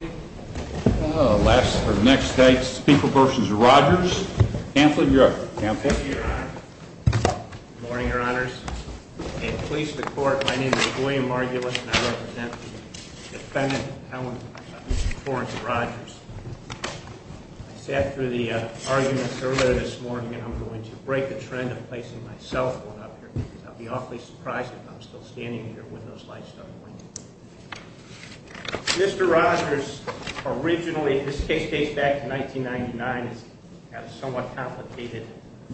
Good morning, Your Honors, and please, the Court, my name is William Margulis, and I represent the defendant, Helen Torrance Rogers. I sat through the arguments earlier this morning, and I'm going to break the trend of placing myself on up here, because I'll be awfully surprised if I'm still standing here when those lights don't blink. Mr. Rogers originally, this case dates back to 1999, it's got a somewhat complicated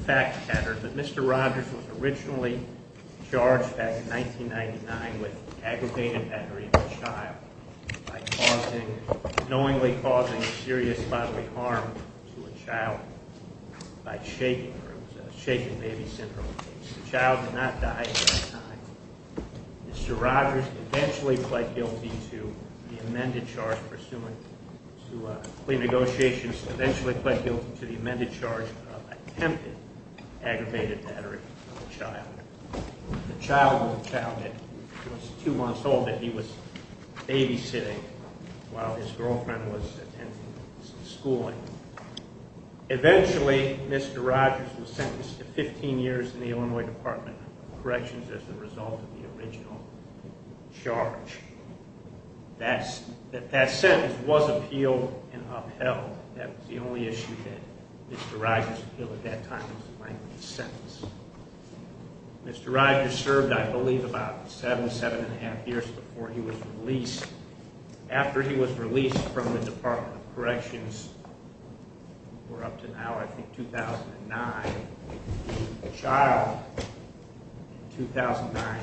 fact pattern, but Mr. Rogers was originally charged back in 1999 with aggravated battery of a child by knowingly causing serious bodily harm to a child by shaking, or it was a shaking baby syndrome case. The child did not die at that time. Mr. Rogers eventually pled guilty to the amended charge pursuant to plea negotiations, eventually pled guilty to the amended charge of attempted aggravated battery of a child. The child was a child that was two months old that he was babysitting while his girlfriend was schooling. Eventually, Mr. Rogers was sentenced to 15 years in the Illinois Department of Corrections as a result of the original charge. That sentence was appealed and upheld. That was the only issue that Mr. Rogers appealed at that time was the length of the sentence. Mr. Rogers served, I believe, about seven, seven and a half years before he was released. After he was released from the Department of Corrections, we're up to now, I think 2009, the child in 2009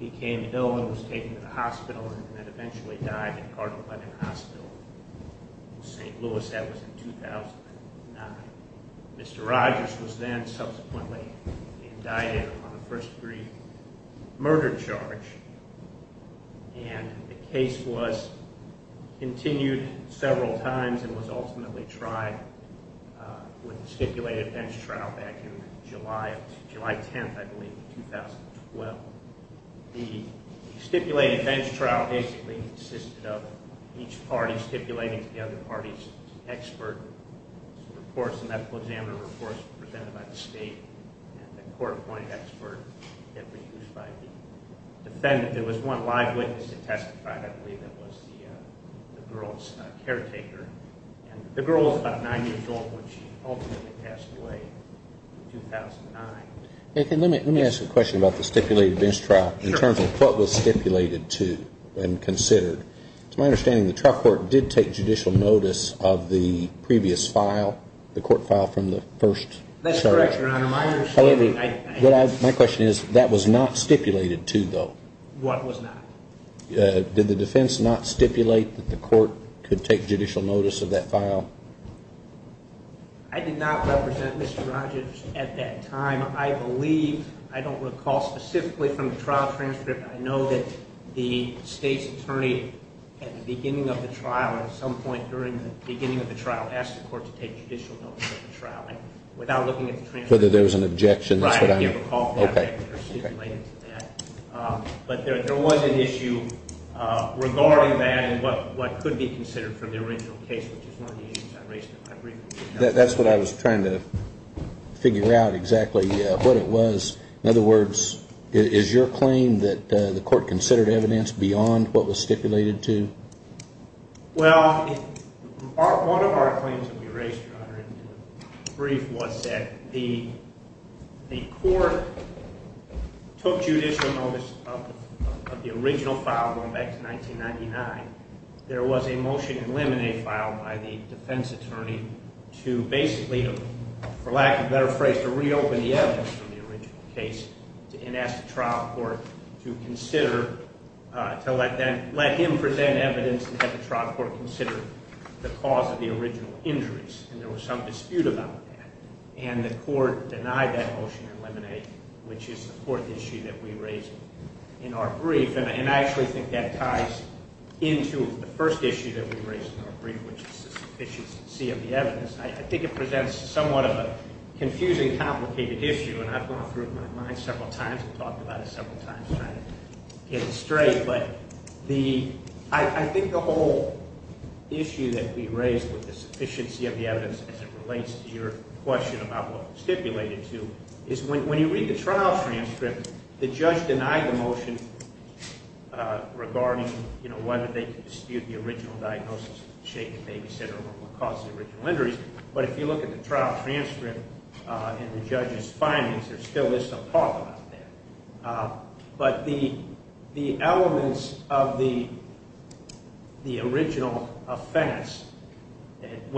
became ill and was taken to the hospital and then eventually died in Cardinal Lennon Hospital in St. Louis. That was in 2009. Mr. Rogers was then subsequently indicted on a first degree murder charge and the case was continued several times and was ultimately tried with a stipulated defense trial back in July, July 10th, I believe, 2012. The stipulated defense trial basically consisted of each party stipulating to the other party's expert reports and medical examiner reports presented by the state and the court-appointed expert that was used by the defendant. There was one live witness that testified, I believe that was the girl's caretaker. The girl was about nine years old when she ultimately passed away in 2009. Let me ask a question about the stipulated defense trial in terms of what was stipulated to and considered. It's my understanding the trial court did take judicial notice of the previous file, the court file from the first search. That's correct, Your Honor. My question is that was not stipulated to, though. What was not? Did the defense not stipulate that the court could take judicial notice of that file? I did not represent Mr. Rogers at that time. I believe, I don't recall specifically from the trial transcript, I know that the state's attorney at the beginning of the trial or at some point during the beginning of the trial asked the court to take judicial notice of the trial without looking at the transcript. Whether there was an objection. That's what I was trying to figure out exactly what it was. In other words, is your claim that the court considered evidence beyond what was stipulated to? Well, one of our claims that we raised, Your Honor, in the brief was that the court took judicial notice of the original file going back to 1999. There was a motion in limine filed by the defense attorney to basically, for lack of a better phrase, to reopen the evidence from the original case and ask the trial court to consider, to let him present evidence and have the trial court consider the cause of the original injuries. And there was some dispute about that. And the court denied that motion in limine, which is the fourth issue that we raised in our brief. And I actually think that ties into the first issue that we raised in our brief, which is the sufficiency of the evidence. I think it presents somewhat of a confusing, complicated issue, and I've gone through it in my mind several times and talked about it several times trying to get it straight. But I think the whole issue that we raised with the sufficiency of the evidence as it relates to your question about what it was stipulated to is when you read the trial transcript, the judge denied the motion regarding whether they could dispute the original diagnosis of the shaken babysitter or what caused the original injuries. But if you look at the trial transcript and the judge's findings, there still is some talk about that. But the elements of the original offense,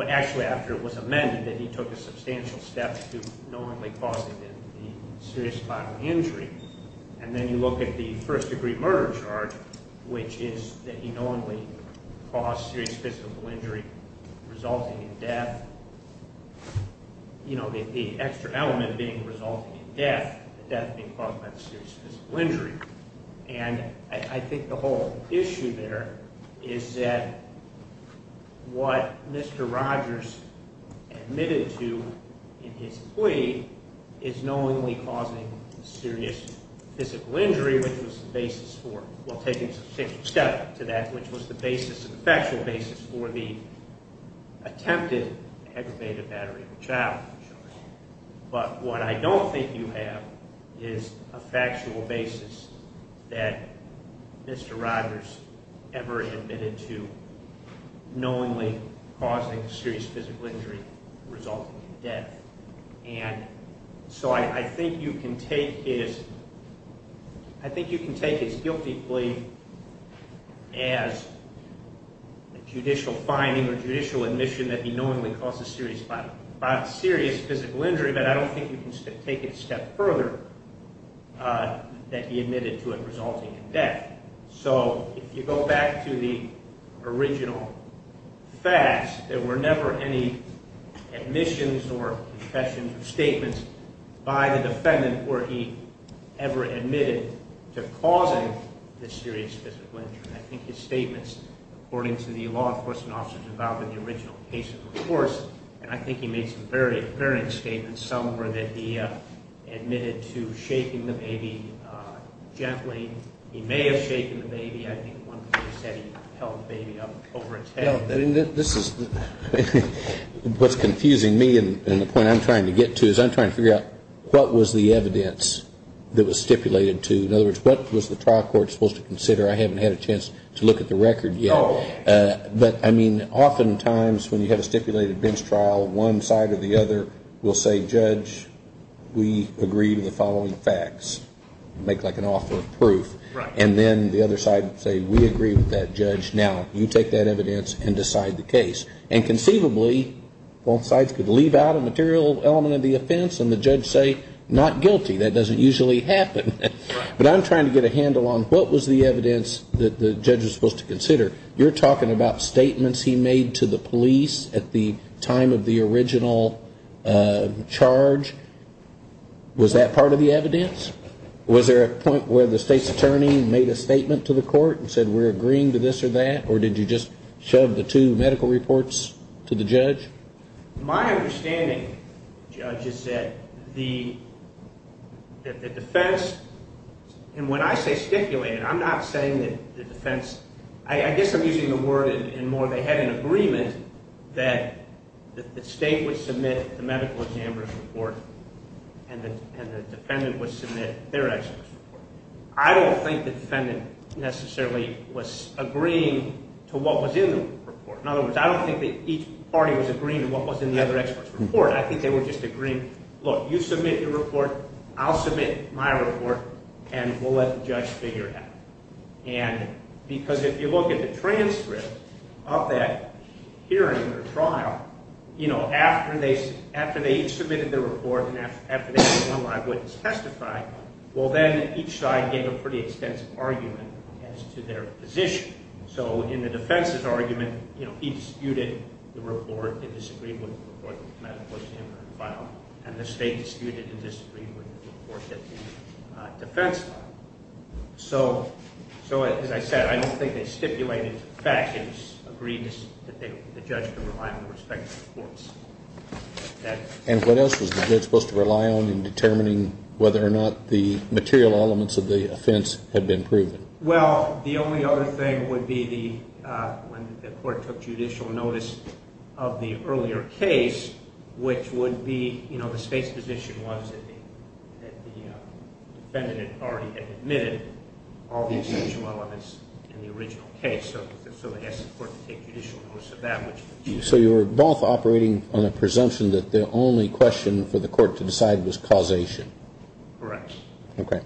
actually after it was amended, that he took a substantial step to knowingly causing the serious bodily injury, and then you look at the first-degree murder charge, which is that he knowingly caused serious physical injury resulting in death. The extra element being resulting in death, the death being caused by the serious physical injury. And I think the whole issue there is that what Mr. Rogers admitted to in his plea is knowingly causing serious physical injury, which was the basis for – well, taking a substantial step to that, which was the basis, the factual basis for the attempted aggravated battery of the child. But what I don't think you have is a factual basis that Mr. Rogers ever admitted to knowingly causing serious physical injury resulting in death. And so I think you can take his guilty plea as a judicial finding or judicial admission that he knowingly caused a serious physical injury, but I don't think you can take it a step further that he admitted to it resulting in death. So if you go back to the original facts, there were never any admissions or confessions or statements by the defendant where he ever admitted to causing the serious physical injury. I think his statements, according to the law enforcement officers involved in the original case of course, and I think he made some very apparent statements. Some were that he admitted to shaking the baby gently. He may have shaken the baby. I think one person said he held the baby up over its head. What's confusing me and the point I'm trying to get to is I'm trying to figure out what was the evidence that was stipulated to. In other words, what was the trial court supposed to consider? I haven't had a chance to look at the record yet. But, I mean, oftentimes when you have a stipulated bench trial, one side or the other will say, judge, we agree to the following facts. Make like an offer of proof. And then the other side will say, we agree with that, judge. Now, you take that evidence and decide the case. And conceivably, both sides could leave out a material element of the offense and the judge say, not guilty. That doesn't usually happen. But I'm trying to get a handle on what was the evidence that the judge was supposed to consider. You're talking about statements he made to the police at the time of the original charge. Was that part of the evidence? Was there a point where the state's attorney made a statement to the court and said, we're agreeing to this or that, or did you just shove the two medical reports to the judge? My understanding, judge, is that the defense, and when I say stipulated, I'm not saying that the defense, I guess I'm using the word in more they had an agreement that the state would submit the medical examiner's report and the defendant would submit their expert's report. I don't think the defendant necessarily was agreeing to what was in the report. In other words, I don't think that each party was agreeing to what was in the other expert's report. I think they were just agreeing, look, you submit your report, I'll submit my report, and we'll let the judge figure it out. Because if you look at the transcript of that hearing or trial, after they each submitted their report and after they had one live witness testify, well, then each side gave a pretty extensive argument as to their position. So in the defense's argument, he disputed the report, he disagreed with the report, the medical examiner filed, and the state disputed and disagreed with the report that the defense filed. So as I said, I don't think they stipulated the fact that the judge could rely on the respective courts. And what else was the judge supposed to rely on in determining whether or not the material elements of the offense had been proven? Well, the only other thing would be when the court took judicial notice of the earlier case, which would be, you know, the state's position was that the defendant had already admitted all the essential elements in the original case. So they asked the court to take judicial notice of that. So you were both operating on the presumption that the only question for the court to decide was causation? Correct. Okay.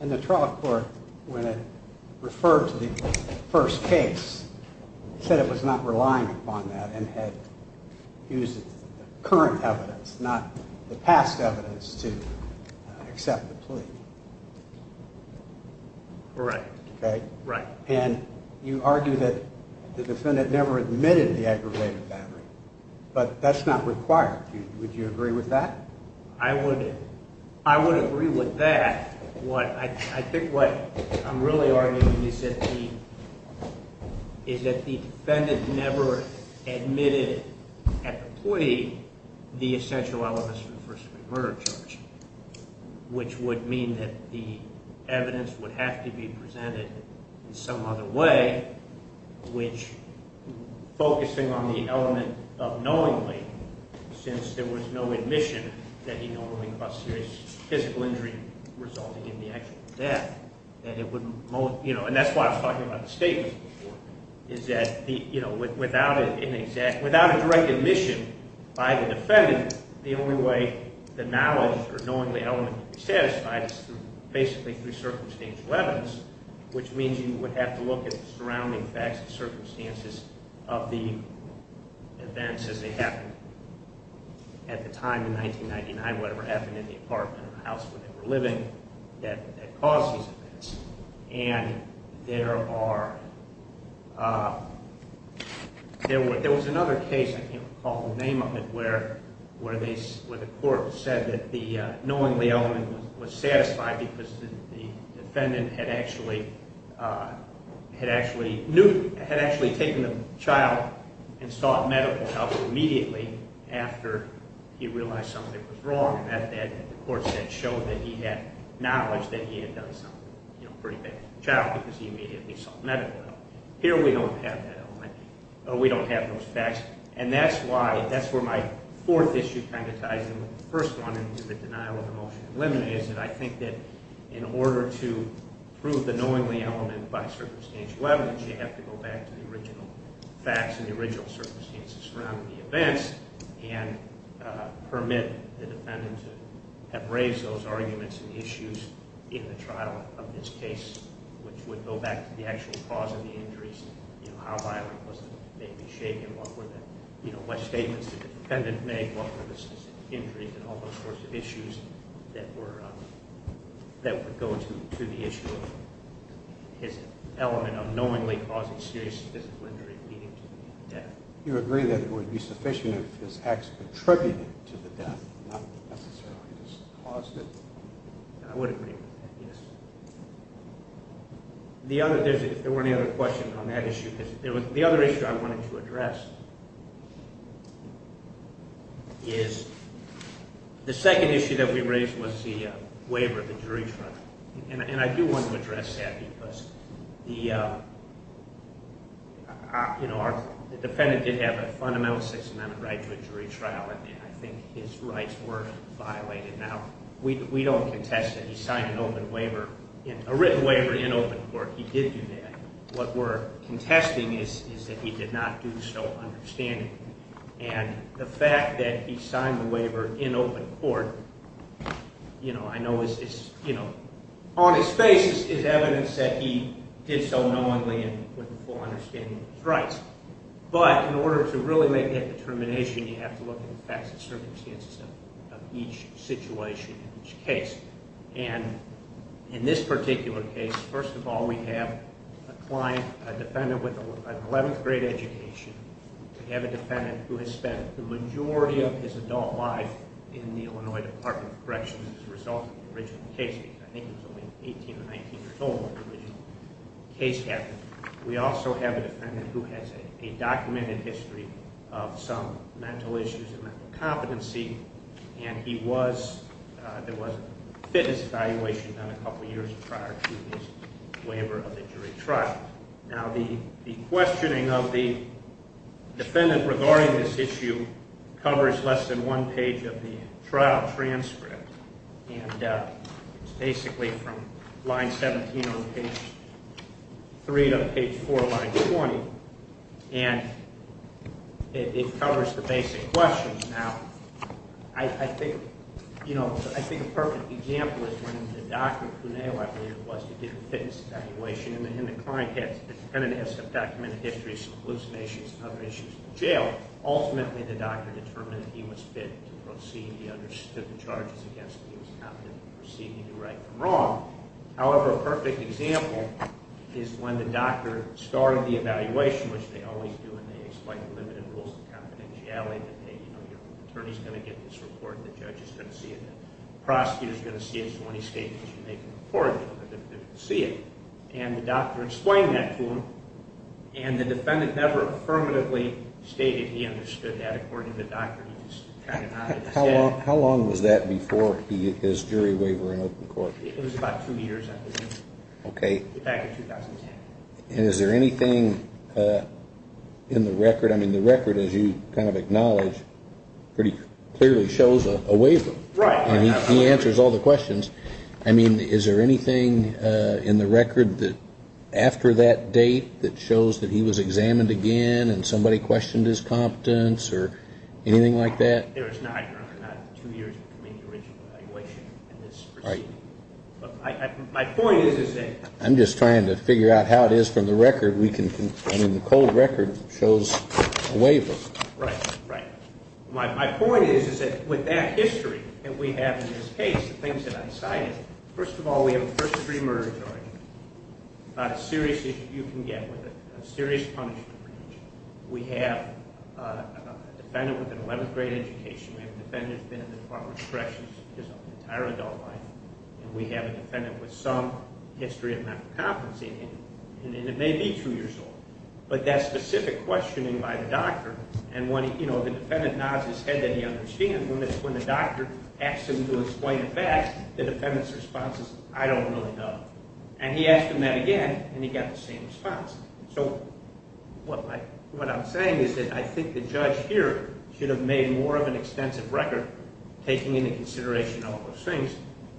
And the trial court, when it referred to the first case, said it was not relying upon that and had used the current evidence, not the past evidence, to accept the plea. Correct. Okay? Right. And you argue that the defendant never admitted the aggravated battery, but that's not required. Would you agree with that? I would agree with that. I think what I'm really arguing is that the defendant never admitted at the plea the essential elements of the first degree murder charge, which would mean that the evidence would have to be presented in some other way, which, focusing on the element of knowingly, since there was no admission that he normally caused serious physical injury resulting in the actual death, that it would most, you know, and that's why I was talking about the statement before, is that, you know, without a direct admission by the defendant, the only way the knowledge or knowingly element would be satisfied is basically through circumstantial evidence, which means you would have to look at the surrounding facts and circumstances of the events as they happened at the time in 1999, whatever happened in the apartment or the house where they were living that caused these events. And there are, there was another case, I can't recall the name of it, where the court said that the knowingly element was satisfied because the defendant had actually, had actually taken the child and sought medical help immediately after he realized something was wrong, and that the court said showed that he had knowledge that he had done something, you know, pretty big to the child because he immediately sought medical help. Here we don't have that element, or we don't have those facts, and that's why, that's where my fourth issue kind of ties in with the first one, and to the denial of emotion preliminary, is that I think that in order to prove the knowingly element by circumstantial evidence, you have to go back to the original facts and the original circumstances surrounding the events and permit the defendant to have raised those arguments and issues in the trial of this case, which would go back to the actual cause of the injuries, you know, how violent was the baby's shape and what were the, you know, what statements did the defendant make, what were the specific injuries and all those sorts of issues that were, that would go to the issue of his element of knowingly causing serious physical injury leading to death. Do you agree that it would be sufficient if his acts contributed to the death, not necessarily just caused it? I would agree with that, yes. The other, if there were any other questions on that issue, the other issue I wanted to address is the second issue that we raised was the waiver, the jury trial, and I do want to address that because the, you know, the defendant did have a fundamental six-amendment right to a jury trial, and I think his rights were violated. Now, we don't contest that he signed an open waiver, a written waiver in open court. He did do that. What we're contesting is that he did not do so understandingly, and the fact that he signed the waiver in open court, you know, I know is, you know, on his face is evidence that he did so knowingly and with a full understanding of his rights, but in order to really make that determination, you have to look at the facts and circumstances of each situation in each case, and in this particular case, first of all, we have a client, a defendant with an 11th grade education. We have a defendant who has spent the majority of his adult life in the Illinois Department of Corrections as a result of the original case. I think he was only 18 or 19 years old when the original case happened. We also have a defendant who has a documented history of some mental issues and mental competency, and he was, there was a fitness evaluation done a couple years prior to his waiver of the jury trial. Now, the questioning of the defendant regarding this issue covers less than one page of the trial transcript, and it's basically from line 17 on page 3 to page 4 of line 20, and it covers the basic questions. Now, I think, you know, I think a perfect example is when the doctor, who I believe it was who did the fitness evaluation, and the client has a documented history of some hallucinations and other issues in jail. Ultimately, the doctor determined that he was fit to proceed. He understood the charges against him. He was competent to proceed. He knew right from wrong. However, a perfect example is when the doctor started the evaluation, which they always do when they explain the limited rules of confidentiality, that, hey, you know, your attorney is going to get this report, and the judge is going to see it, and the prosecutor is going to see it, so when he states that you made the report, you're going to be able to see it. And the doctor explained that to him, and the defendant never affirmatively stated he understood that. How long was that before his jury waiver in open court? It was about two years, I believe. Okay. Back in 2010. And is there anything in the record? I mean, the record, as you kind of acknowledge, pretty clearly shows a waiver. Right. And he answers all the questions. I mean, is there anything in the record after that date that shows that he was examined again and somebody questioned his competence or anything like that? There is not, Your Honor. Not two years between the original evaluation and this proceeding. Right. My point is that ---- I'm just trying to figure out how it is from the record. I mean, the cold record shows a waiver. Right. Right. My point is that with that history that we have in this case, the things that I cited, first of all, we have a first-degree murder charge, a serious issue you can get with it, a serious punishment. We have a defendant with an 11th-grade education. We have a defendant who's been in the Department of Corrections his entire adult life. And we have a defendant with some history of medical competency. And it may be two years old. But that specific questioning by the doctor, and when the defendant nods his head that he understands, when the doctor asks him to explain the fact, the defendant's response is, I don't really know. And he asked him that again, and he got the same response. So what I'm saying is that I think the judge here should have made more of an extensive record, taking into consideration all those things,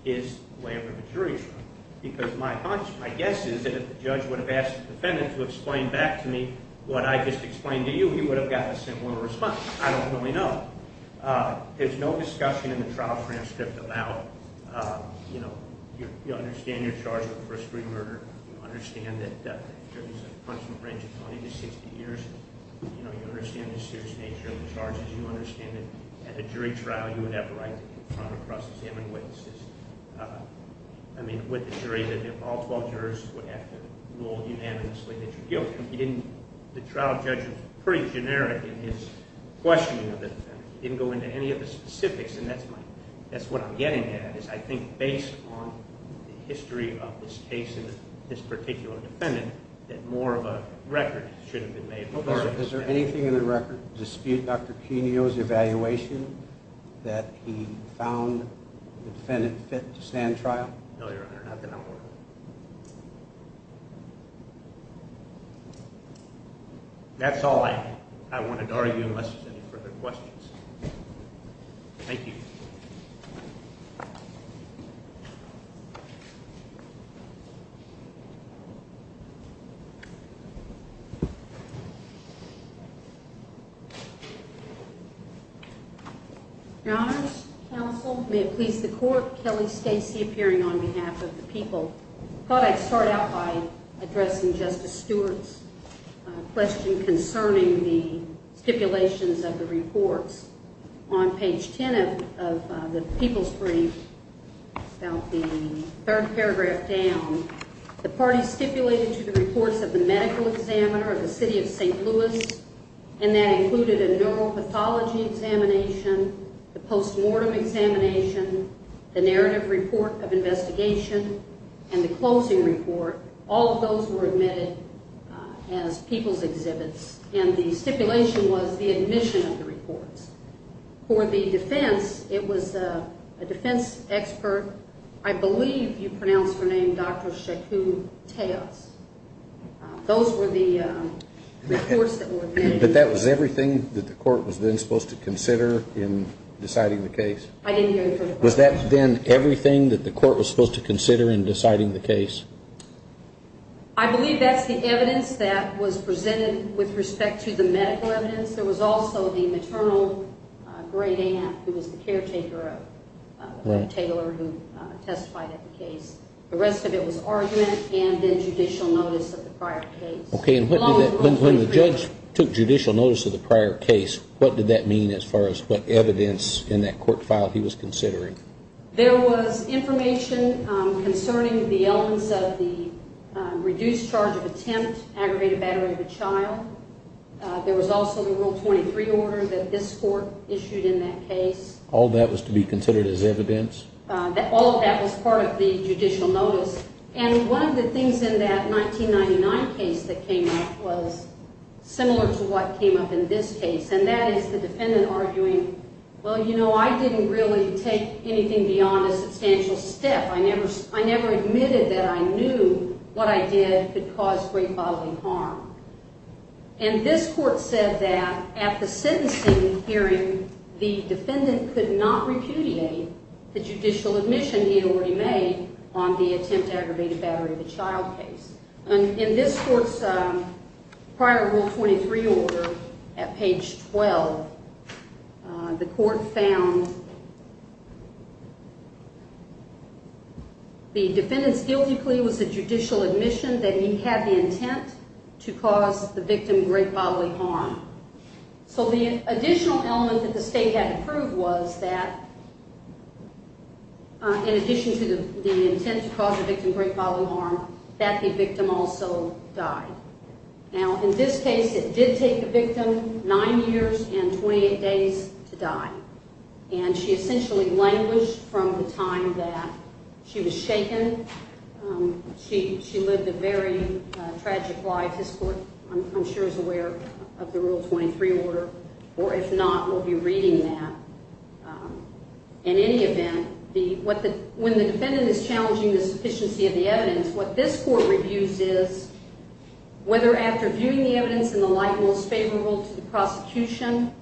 his waiver of insurance. Because my guess is that if the judge would have asked the defendant to explain back to me what I just explained to you, he would have gotten a similar response, I don't really know. There's no discussion in the trial transcript about, you know, you understand you're charged with first-degree murder. You understand that there's a punishment range of 20 to 60 years. You know, you understand the serious nature of the charges. You understand that at a jury trial you would have the right to confront across examine witnesses. I mean, with the jury, that if all 12 jurors would have to rule unanimously that you're guilty. The trial judge was pretty generic in his questioning of the defendant. He didn't go into any of the specifics, and that's what I'm getting at, is I think based on the history of this case and this particular defendant, that more of a record should have been made. Is there anything in the record to dispute Dr. Quinio's evaluation that he found the defendant fit to stand trial? No, Your Honor, not that I'm aware of. That's all I wanted to argue unless there's any further questions. Thank you. Your Honors, counsel, may it please the Court, Kelly Stacy appearing on behalf of the people. I thought I'd start out by addressing Justice Stewart's question concerning the stipulations of the reports. On page 10 of the people's brief, about the third paragraph down, the party stipulated to the reports of the medical examiner of the city of St. Louis, and that included a neuropathology examination, the postmortem examination, the narrative report of investigation, and the closing report. All of those were admitted as people's exhibits, and the stipulation was the admission of the reports. For the defense, it was a defense expert. I believe you pronounced her name Dr. Sheku Teos. Those were the reports that were admitted. But that was everything that the court was then supposed to consider in deciding the case? I didn't hear the first part of that. Was that then everything that the court was supposed to consider in deciding the case? I believe that's the evidence that was presented with respect to the medical evidence. There was also the maternal great aunt who was the caretaker of the retailer who testified at the case. The rest of it was argument and then judicial notice of the prior case. Okay, and when the judge took judicial notice of the prior case, what did that mean as far as what evidence in that court file he was considering? There was information concerning the elements of the reduced charge of attempt, aggravated battery of a child. There was also the Rule 23 order that this court issued in that case. All that was to be considered as evidence? All of that was part of the judicial notice. And one of the things in that 1999 case that came up was similar to what came up in this case, and that is the defendant arguing, well, you know, I didn't really take anything beyond a substantial step. I never admitted that I knew what I did could cause great bodily harm. And this court said that at the sentencing hearing, the defendant could not repudiate the judicial admission he already made on the attempt, aggravated battery of a child case. And in this court's prior Rule 23 order at page 12, the court found the defendant's guilty plea was a judicial admission that he had the intent to cause the victim great bodily harm. So the additional element that the state had to prove was that in addition to the intent to cause the victim great bodily harm, that the victim also died. Now, in this case, it did take the victim 9 years and 28 days to die. And she essentially languished from the time that she was shaken. She lived a very tragic life. This court, I'm sure, is aware of the Rule 23 order, or if not, will be reading that. In any event, when the defendant is challenging the sufficiency of the evidence, what this court reviews is whether after viewing the evidence in the light most favorable to the prosecution,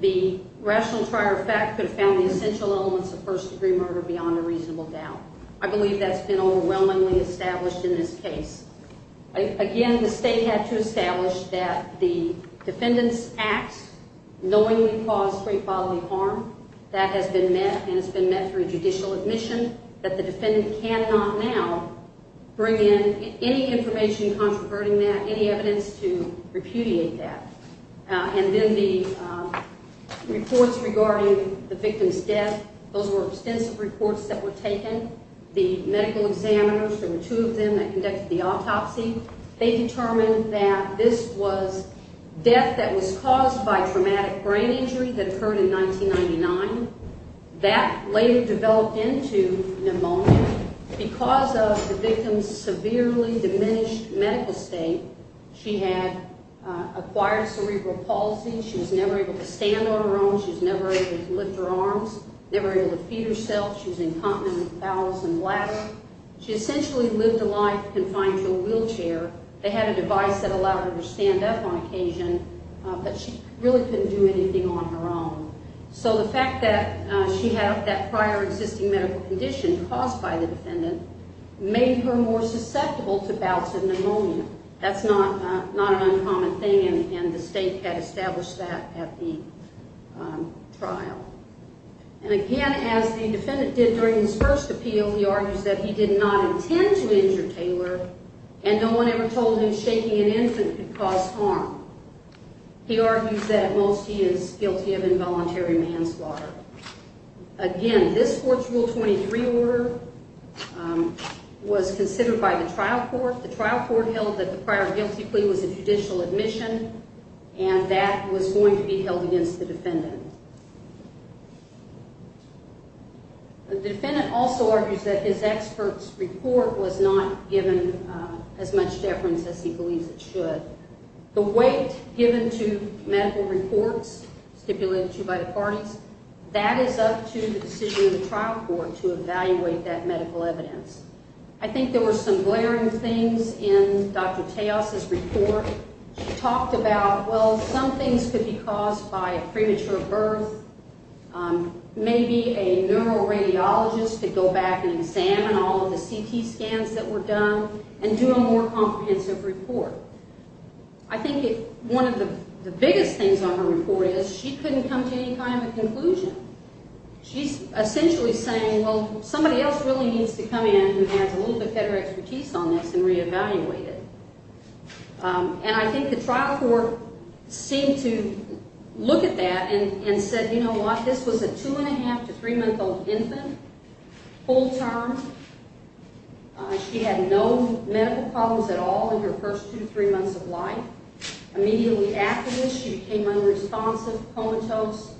the rational prior effect could have found the essential elements of first-degree murder beyond a reasonable doubt. I believe that's been overwhelmingly established in this case. Again, the state had to establish that the defendant's act knowingly caused great bodily harm. That has been met, and it's been met through judicial admission, that the defendant cannot now bring in any information contraverting that, any evidence to repudiate that. And then the reports regarding the victim's death, those were extensive reports that were taken. The medical examiners, there were two of them that conducted the autopsy. They determined that this was death that was caused by traumatic brain injury that occurred in 1999. That later developed into pneumonia. Because of the victim's severely diminished medical state, she had acquired cerebral palsy. She was never able to stand on her own. She was never able to lift her arms, never able to feed herself. She was incontinent with bowels and bladder. She essentially lived a life confined to a wheelchair. They had a device that allowed her to stand up on occasion, but she really couldn't do anything on her own. So the fact that she had that prior existing medical condition caused by the defendant made her more susceptible to bouts of pneumonia. That's not an uncommon thing, and the state had established that at the trial. And again, as the defendant did during his first appeal, he argues that he did not intend to injure Taylor, and no one ever told him shaking an infant could cause harm. He argues that at most he is guilty of involuntary manslaughter. Again, this court's Rule 23 order was considered by the trial court. The trial court held that the prior guilty plea was a judicial admission, and that was going to be held against the defendant. The defendant also argues that his expert's report was not given as much deference as he believes it should. The weight given to medical reports stipulated to you by the parties, that is up to the decision of the trial court to evaluate that medical evidence. I think there were some glaring things in Dr. Taos's report. She talked about, well, some things could be caused by a premature birth. Maybe a neuroradiologist could go back and examine all of the CT scans that were done and do a more comprehensive report. I think one of the biggest things on her report is she couldn't come to any kind of a conclusion. She's essentially saying, well, somebody else really needs to come in who has a little bit better expertise on this and reevaluate it. And I think the trial court seemed to look at that and said, you know what, this was a two-and-a-half to three-month-old infant, full term. She had no medical problems at all in her first two to three months of life. Immediately after this, she became unresponsive, comatose.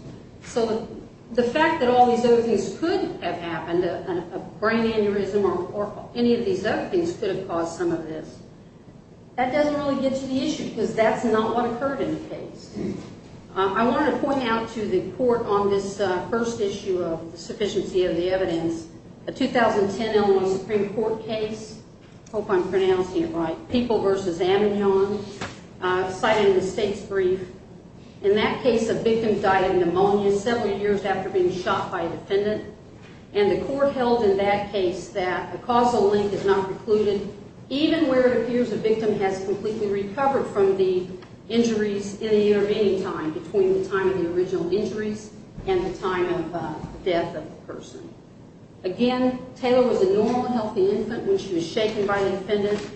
So the fact that all these other things could have happened, a brain aneurysm or any of these other things could have caused some of this, that doesn't really get to the issue because that's not what occurred in the case. I want to point out to the court on this first issue of the sufficiency of the evidence, a 2010 Illinois Supreme Court case, I hope I'm pronouncing it right, People v. Aminhon, citing the state's brief. In that case, a victim died of pneumonia several years after being shot by a defendant, and the court held in that case that a causal link is not precluded, even where it appears the victim has completely recovered from the injuries in the intervening time, between the time of the original injuries and the time of death of the person. Again, Taylor was a normal, healthy infant when she was shaken by the defendant.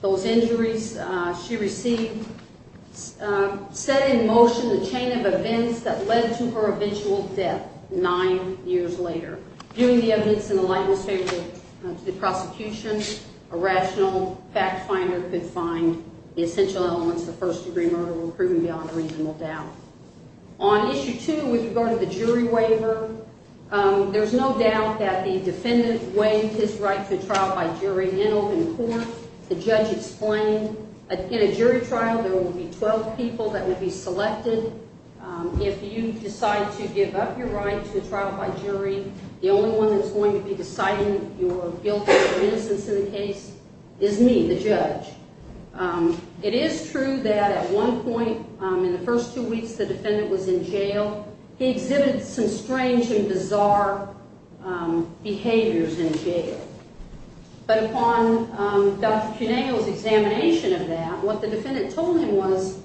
Those injuries she received set in motion the chain of events that led to her eventual death nine years later. Viewing the evidence in the lightness favorable to the prosecution, a rational fact finder could find the essential elements of first-degree murder were proven beyond reasonable doubt. On issue two, with regard to the jury waiver, there's no doubt that the defendant waived his right to trial by jury. In open court, the judge explained in a jury trial there will be 12 people that will be selected. If you decide to give up your right to trial by jury, the only one that's going to be deciding your guilt or innocence in the case is me, the judge. It is true that at one point in the first two weeks the defendant was in jail, he exhibited some strange and bizarre behaviors in jail. But upon Dr. Cuneo's examination of that, what the defendant told him was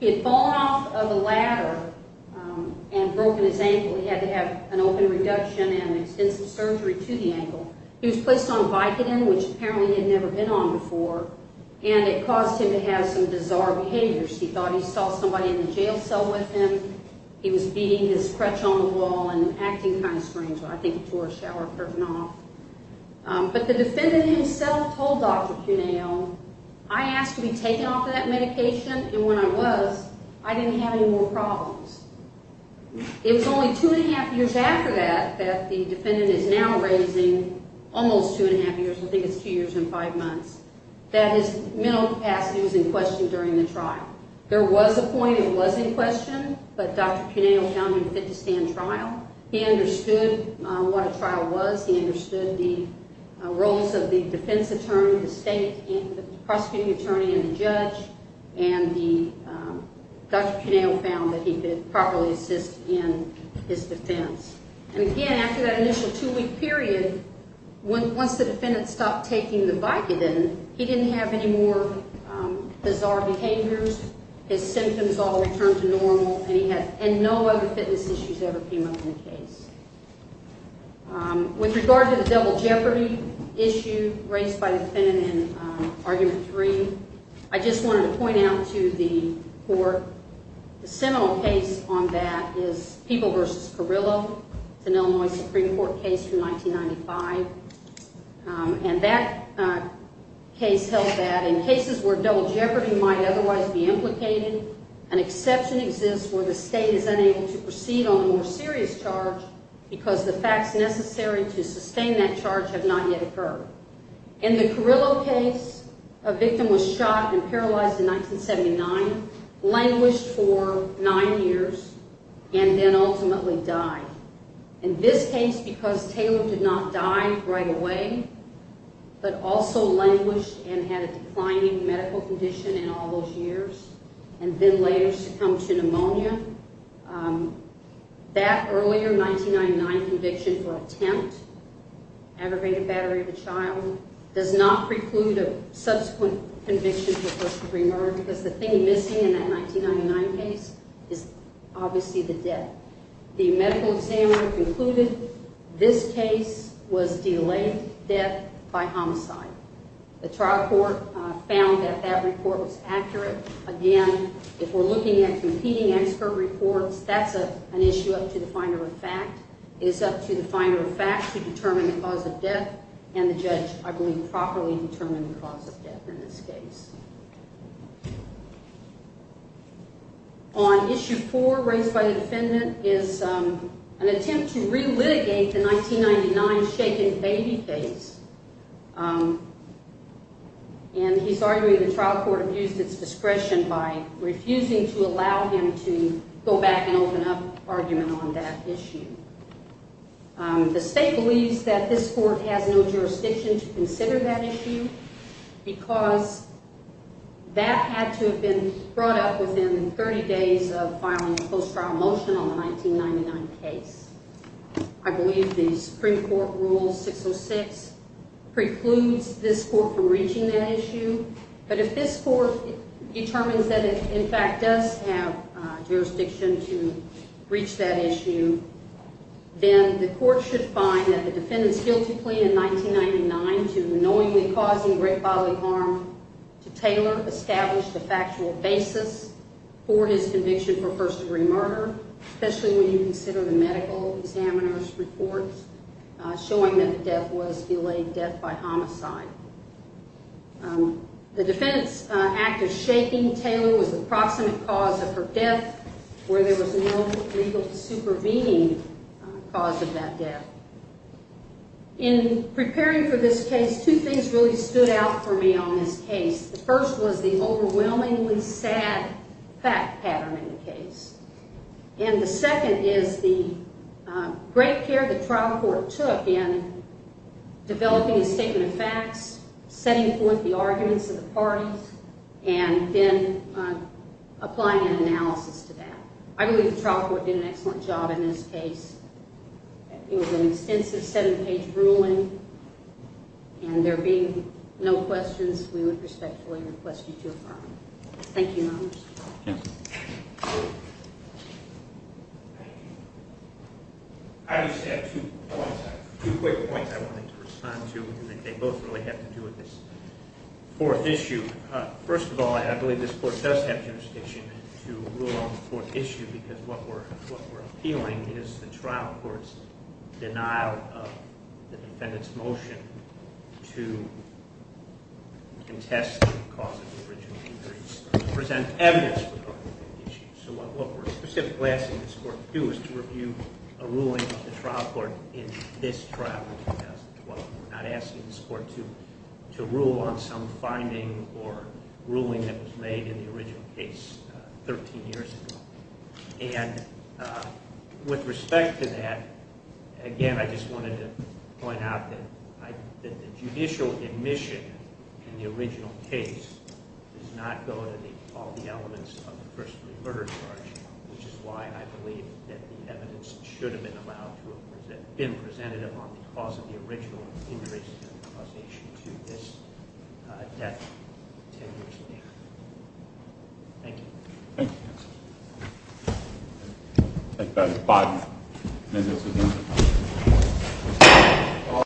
he had fallen off of a ladder and broken his ankle. He had to have an open reduction and extensive surgery to the ankle. He was placed on Vicodin, which apparently he had never been on before, and it caused him to have some bizarre behaviors. He thought he saw somebody in the jail cell with him. He was beating his crutch on the wall and acting kind of strange. I think he tore a shower curtain off. But the defendant himself told Dr. Cuneo, I asked to be taken off of that medication, and when I was, I didn't have any more problems. It was only two and a half years after that that the defendant is now raising almost two and a half years, I think it's two years and five months, that his mental capacity was in question during the trial. There was a point it was in question, but Dr. Cuneo found him fit to stand trial. He understood what a trial was. He understood the roles of the defense attorney, the state prosecuting attorney, and the judge. And Dr. Cuneo found that he could properly assist in his defense. And again, after that initial two-week period, once the defendant stopped taking the Vicodin, he didn't have any more bizarre behaviors. His symptoms all returned to normal, and no other fitness issues ever came up in the case. With regard to the double jeopardy issue raised by the defendant in argument three, I just wanted to point out to the court, the seminal case on that is People v. Carrillo. It's an Illinois Supreme Court case from 1995. And that case held that in cases where double jeopardy might otherwise be implicated, an exception exists where the state is unable to proceed on a more serious charge because the facts necessary to sustain that charge have not yet occurred. In the Carrillo case, a victim was shot and paralyzed in 1979, languished for nine years, and then ultimately died. In this case, because Taylor did not die right away, but also languished and had a declining medical condition in all those years, and then later succumbed to pneumonia, that earlier 1999 conviction for attempt, aggravated battery of the child, does not preclude a subsequent conviction for first degree murder because the thing missing in that 1999 case is obviously the death. The medical examiner concluded this case was delayed death by homicide. The trial court found that that report was accurate. Again, if we're looking at competing expert reports, that's an issue up to the finder of fact. It is up to the finder of fact to determine the cause of death, and the judge, I believe, properly determined the cause of death in this case. On issue four, raised by the defendant, is an attempt to re-litigate the 1999 shaken baby case. And he's arguing the trial court abused its discretion by refusing to allow him to go back and open up argument on that issue. The state believes that this court has no jurisdiction to consider that issue because that had to have been brought up within 30 days of filing a post-trial motion on the 1999 case. I believe the Supreme Court Rule 606 precludes this court from reaching that issue, but if this court determines that it, in fact, does have jurisdiction to reach that issue, then the court should find that the defendant's guilty plea in 1999 to knowingly causing great bodily harm to Taylor established a factual basis for his conviction for first-degree murder, especially when you consider the medical examiner's reports showing that the death was delayed death by homicide. The defendant's act of shaking Taylor was the proximate cause of her death where there was no legal supervening cause of that death. In preparing for this case, two things really stood out for me on this case. The first was the overwhelmingly sad fact pattern in the case. And the second is the great care the trial court took in developing a statement of facts, setting forth the arguments of the parties, and then applying an analysis to that. I believe the trial court did an excellent job in this case. It was an extensive seven-page ruling, and there being no questions, we would respectfully request you to affirm. Thank you, Your Honors. I just have two quick points I wanted to respond to, and they both really have to do with this fourth issue. First of all, I believe this court does have jurisdiction to rule on the fourth issue because what we're appealing is the trial court's denial of the defendant's motion to contest the cause of the original injuries. To present evidence for the issue. So what we're specifically asking this court to do is to review a ruling of the trial court in this trial in 2012. We're not asking this court to rule on some finding or ruling that was made in the original case 13 years ago. And with respect to that, again, I just wanted to point out that the judicial admission in the original case does not go to all the elements of the first-degree murder charge, which is why I believe that the evidence should have been presented on the cause of the original injuries and the causation to this death 10 years later. Thank you. Thank you, counsel. Thank you, guys. Five minutes again.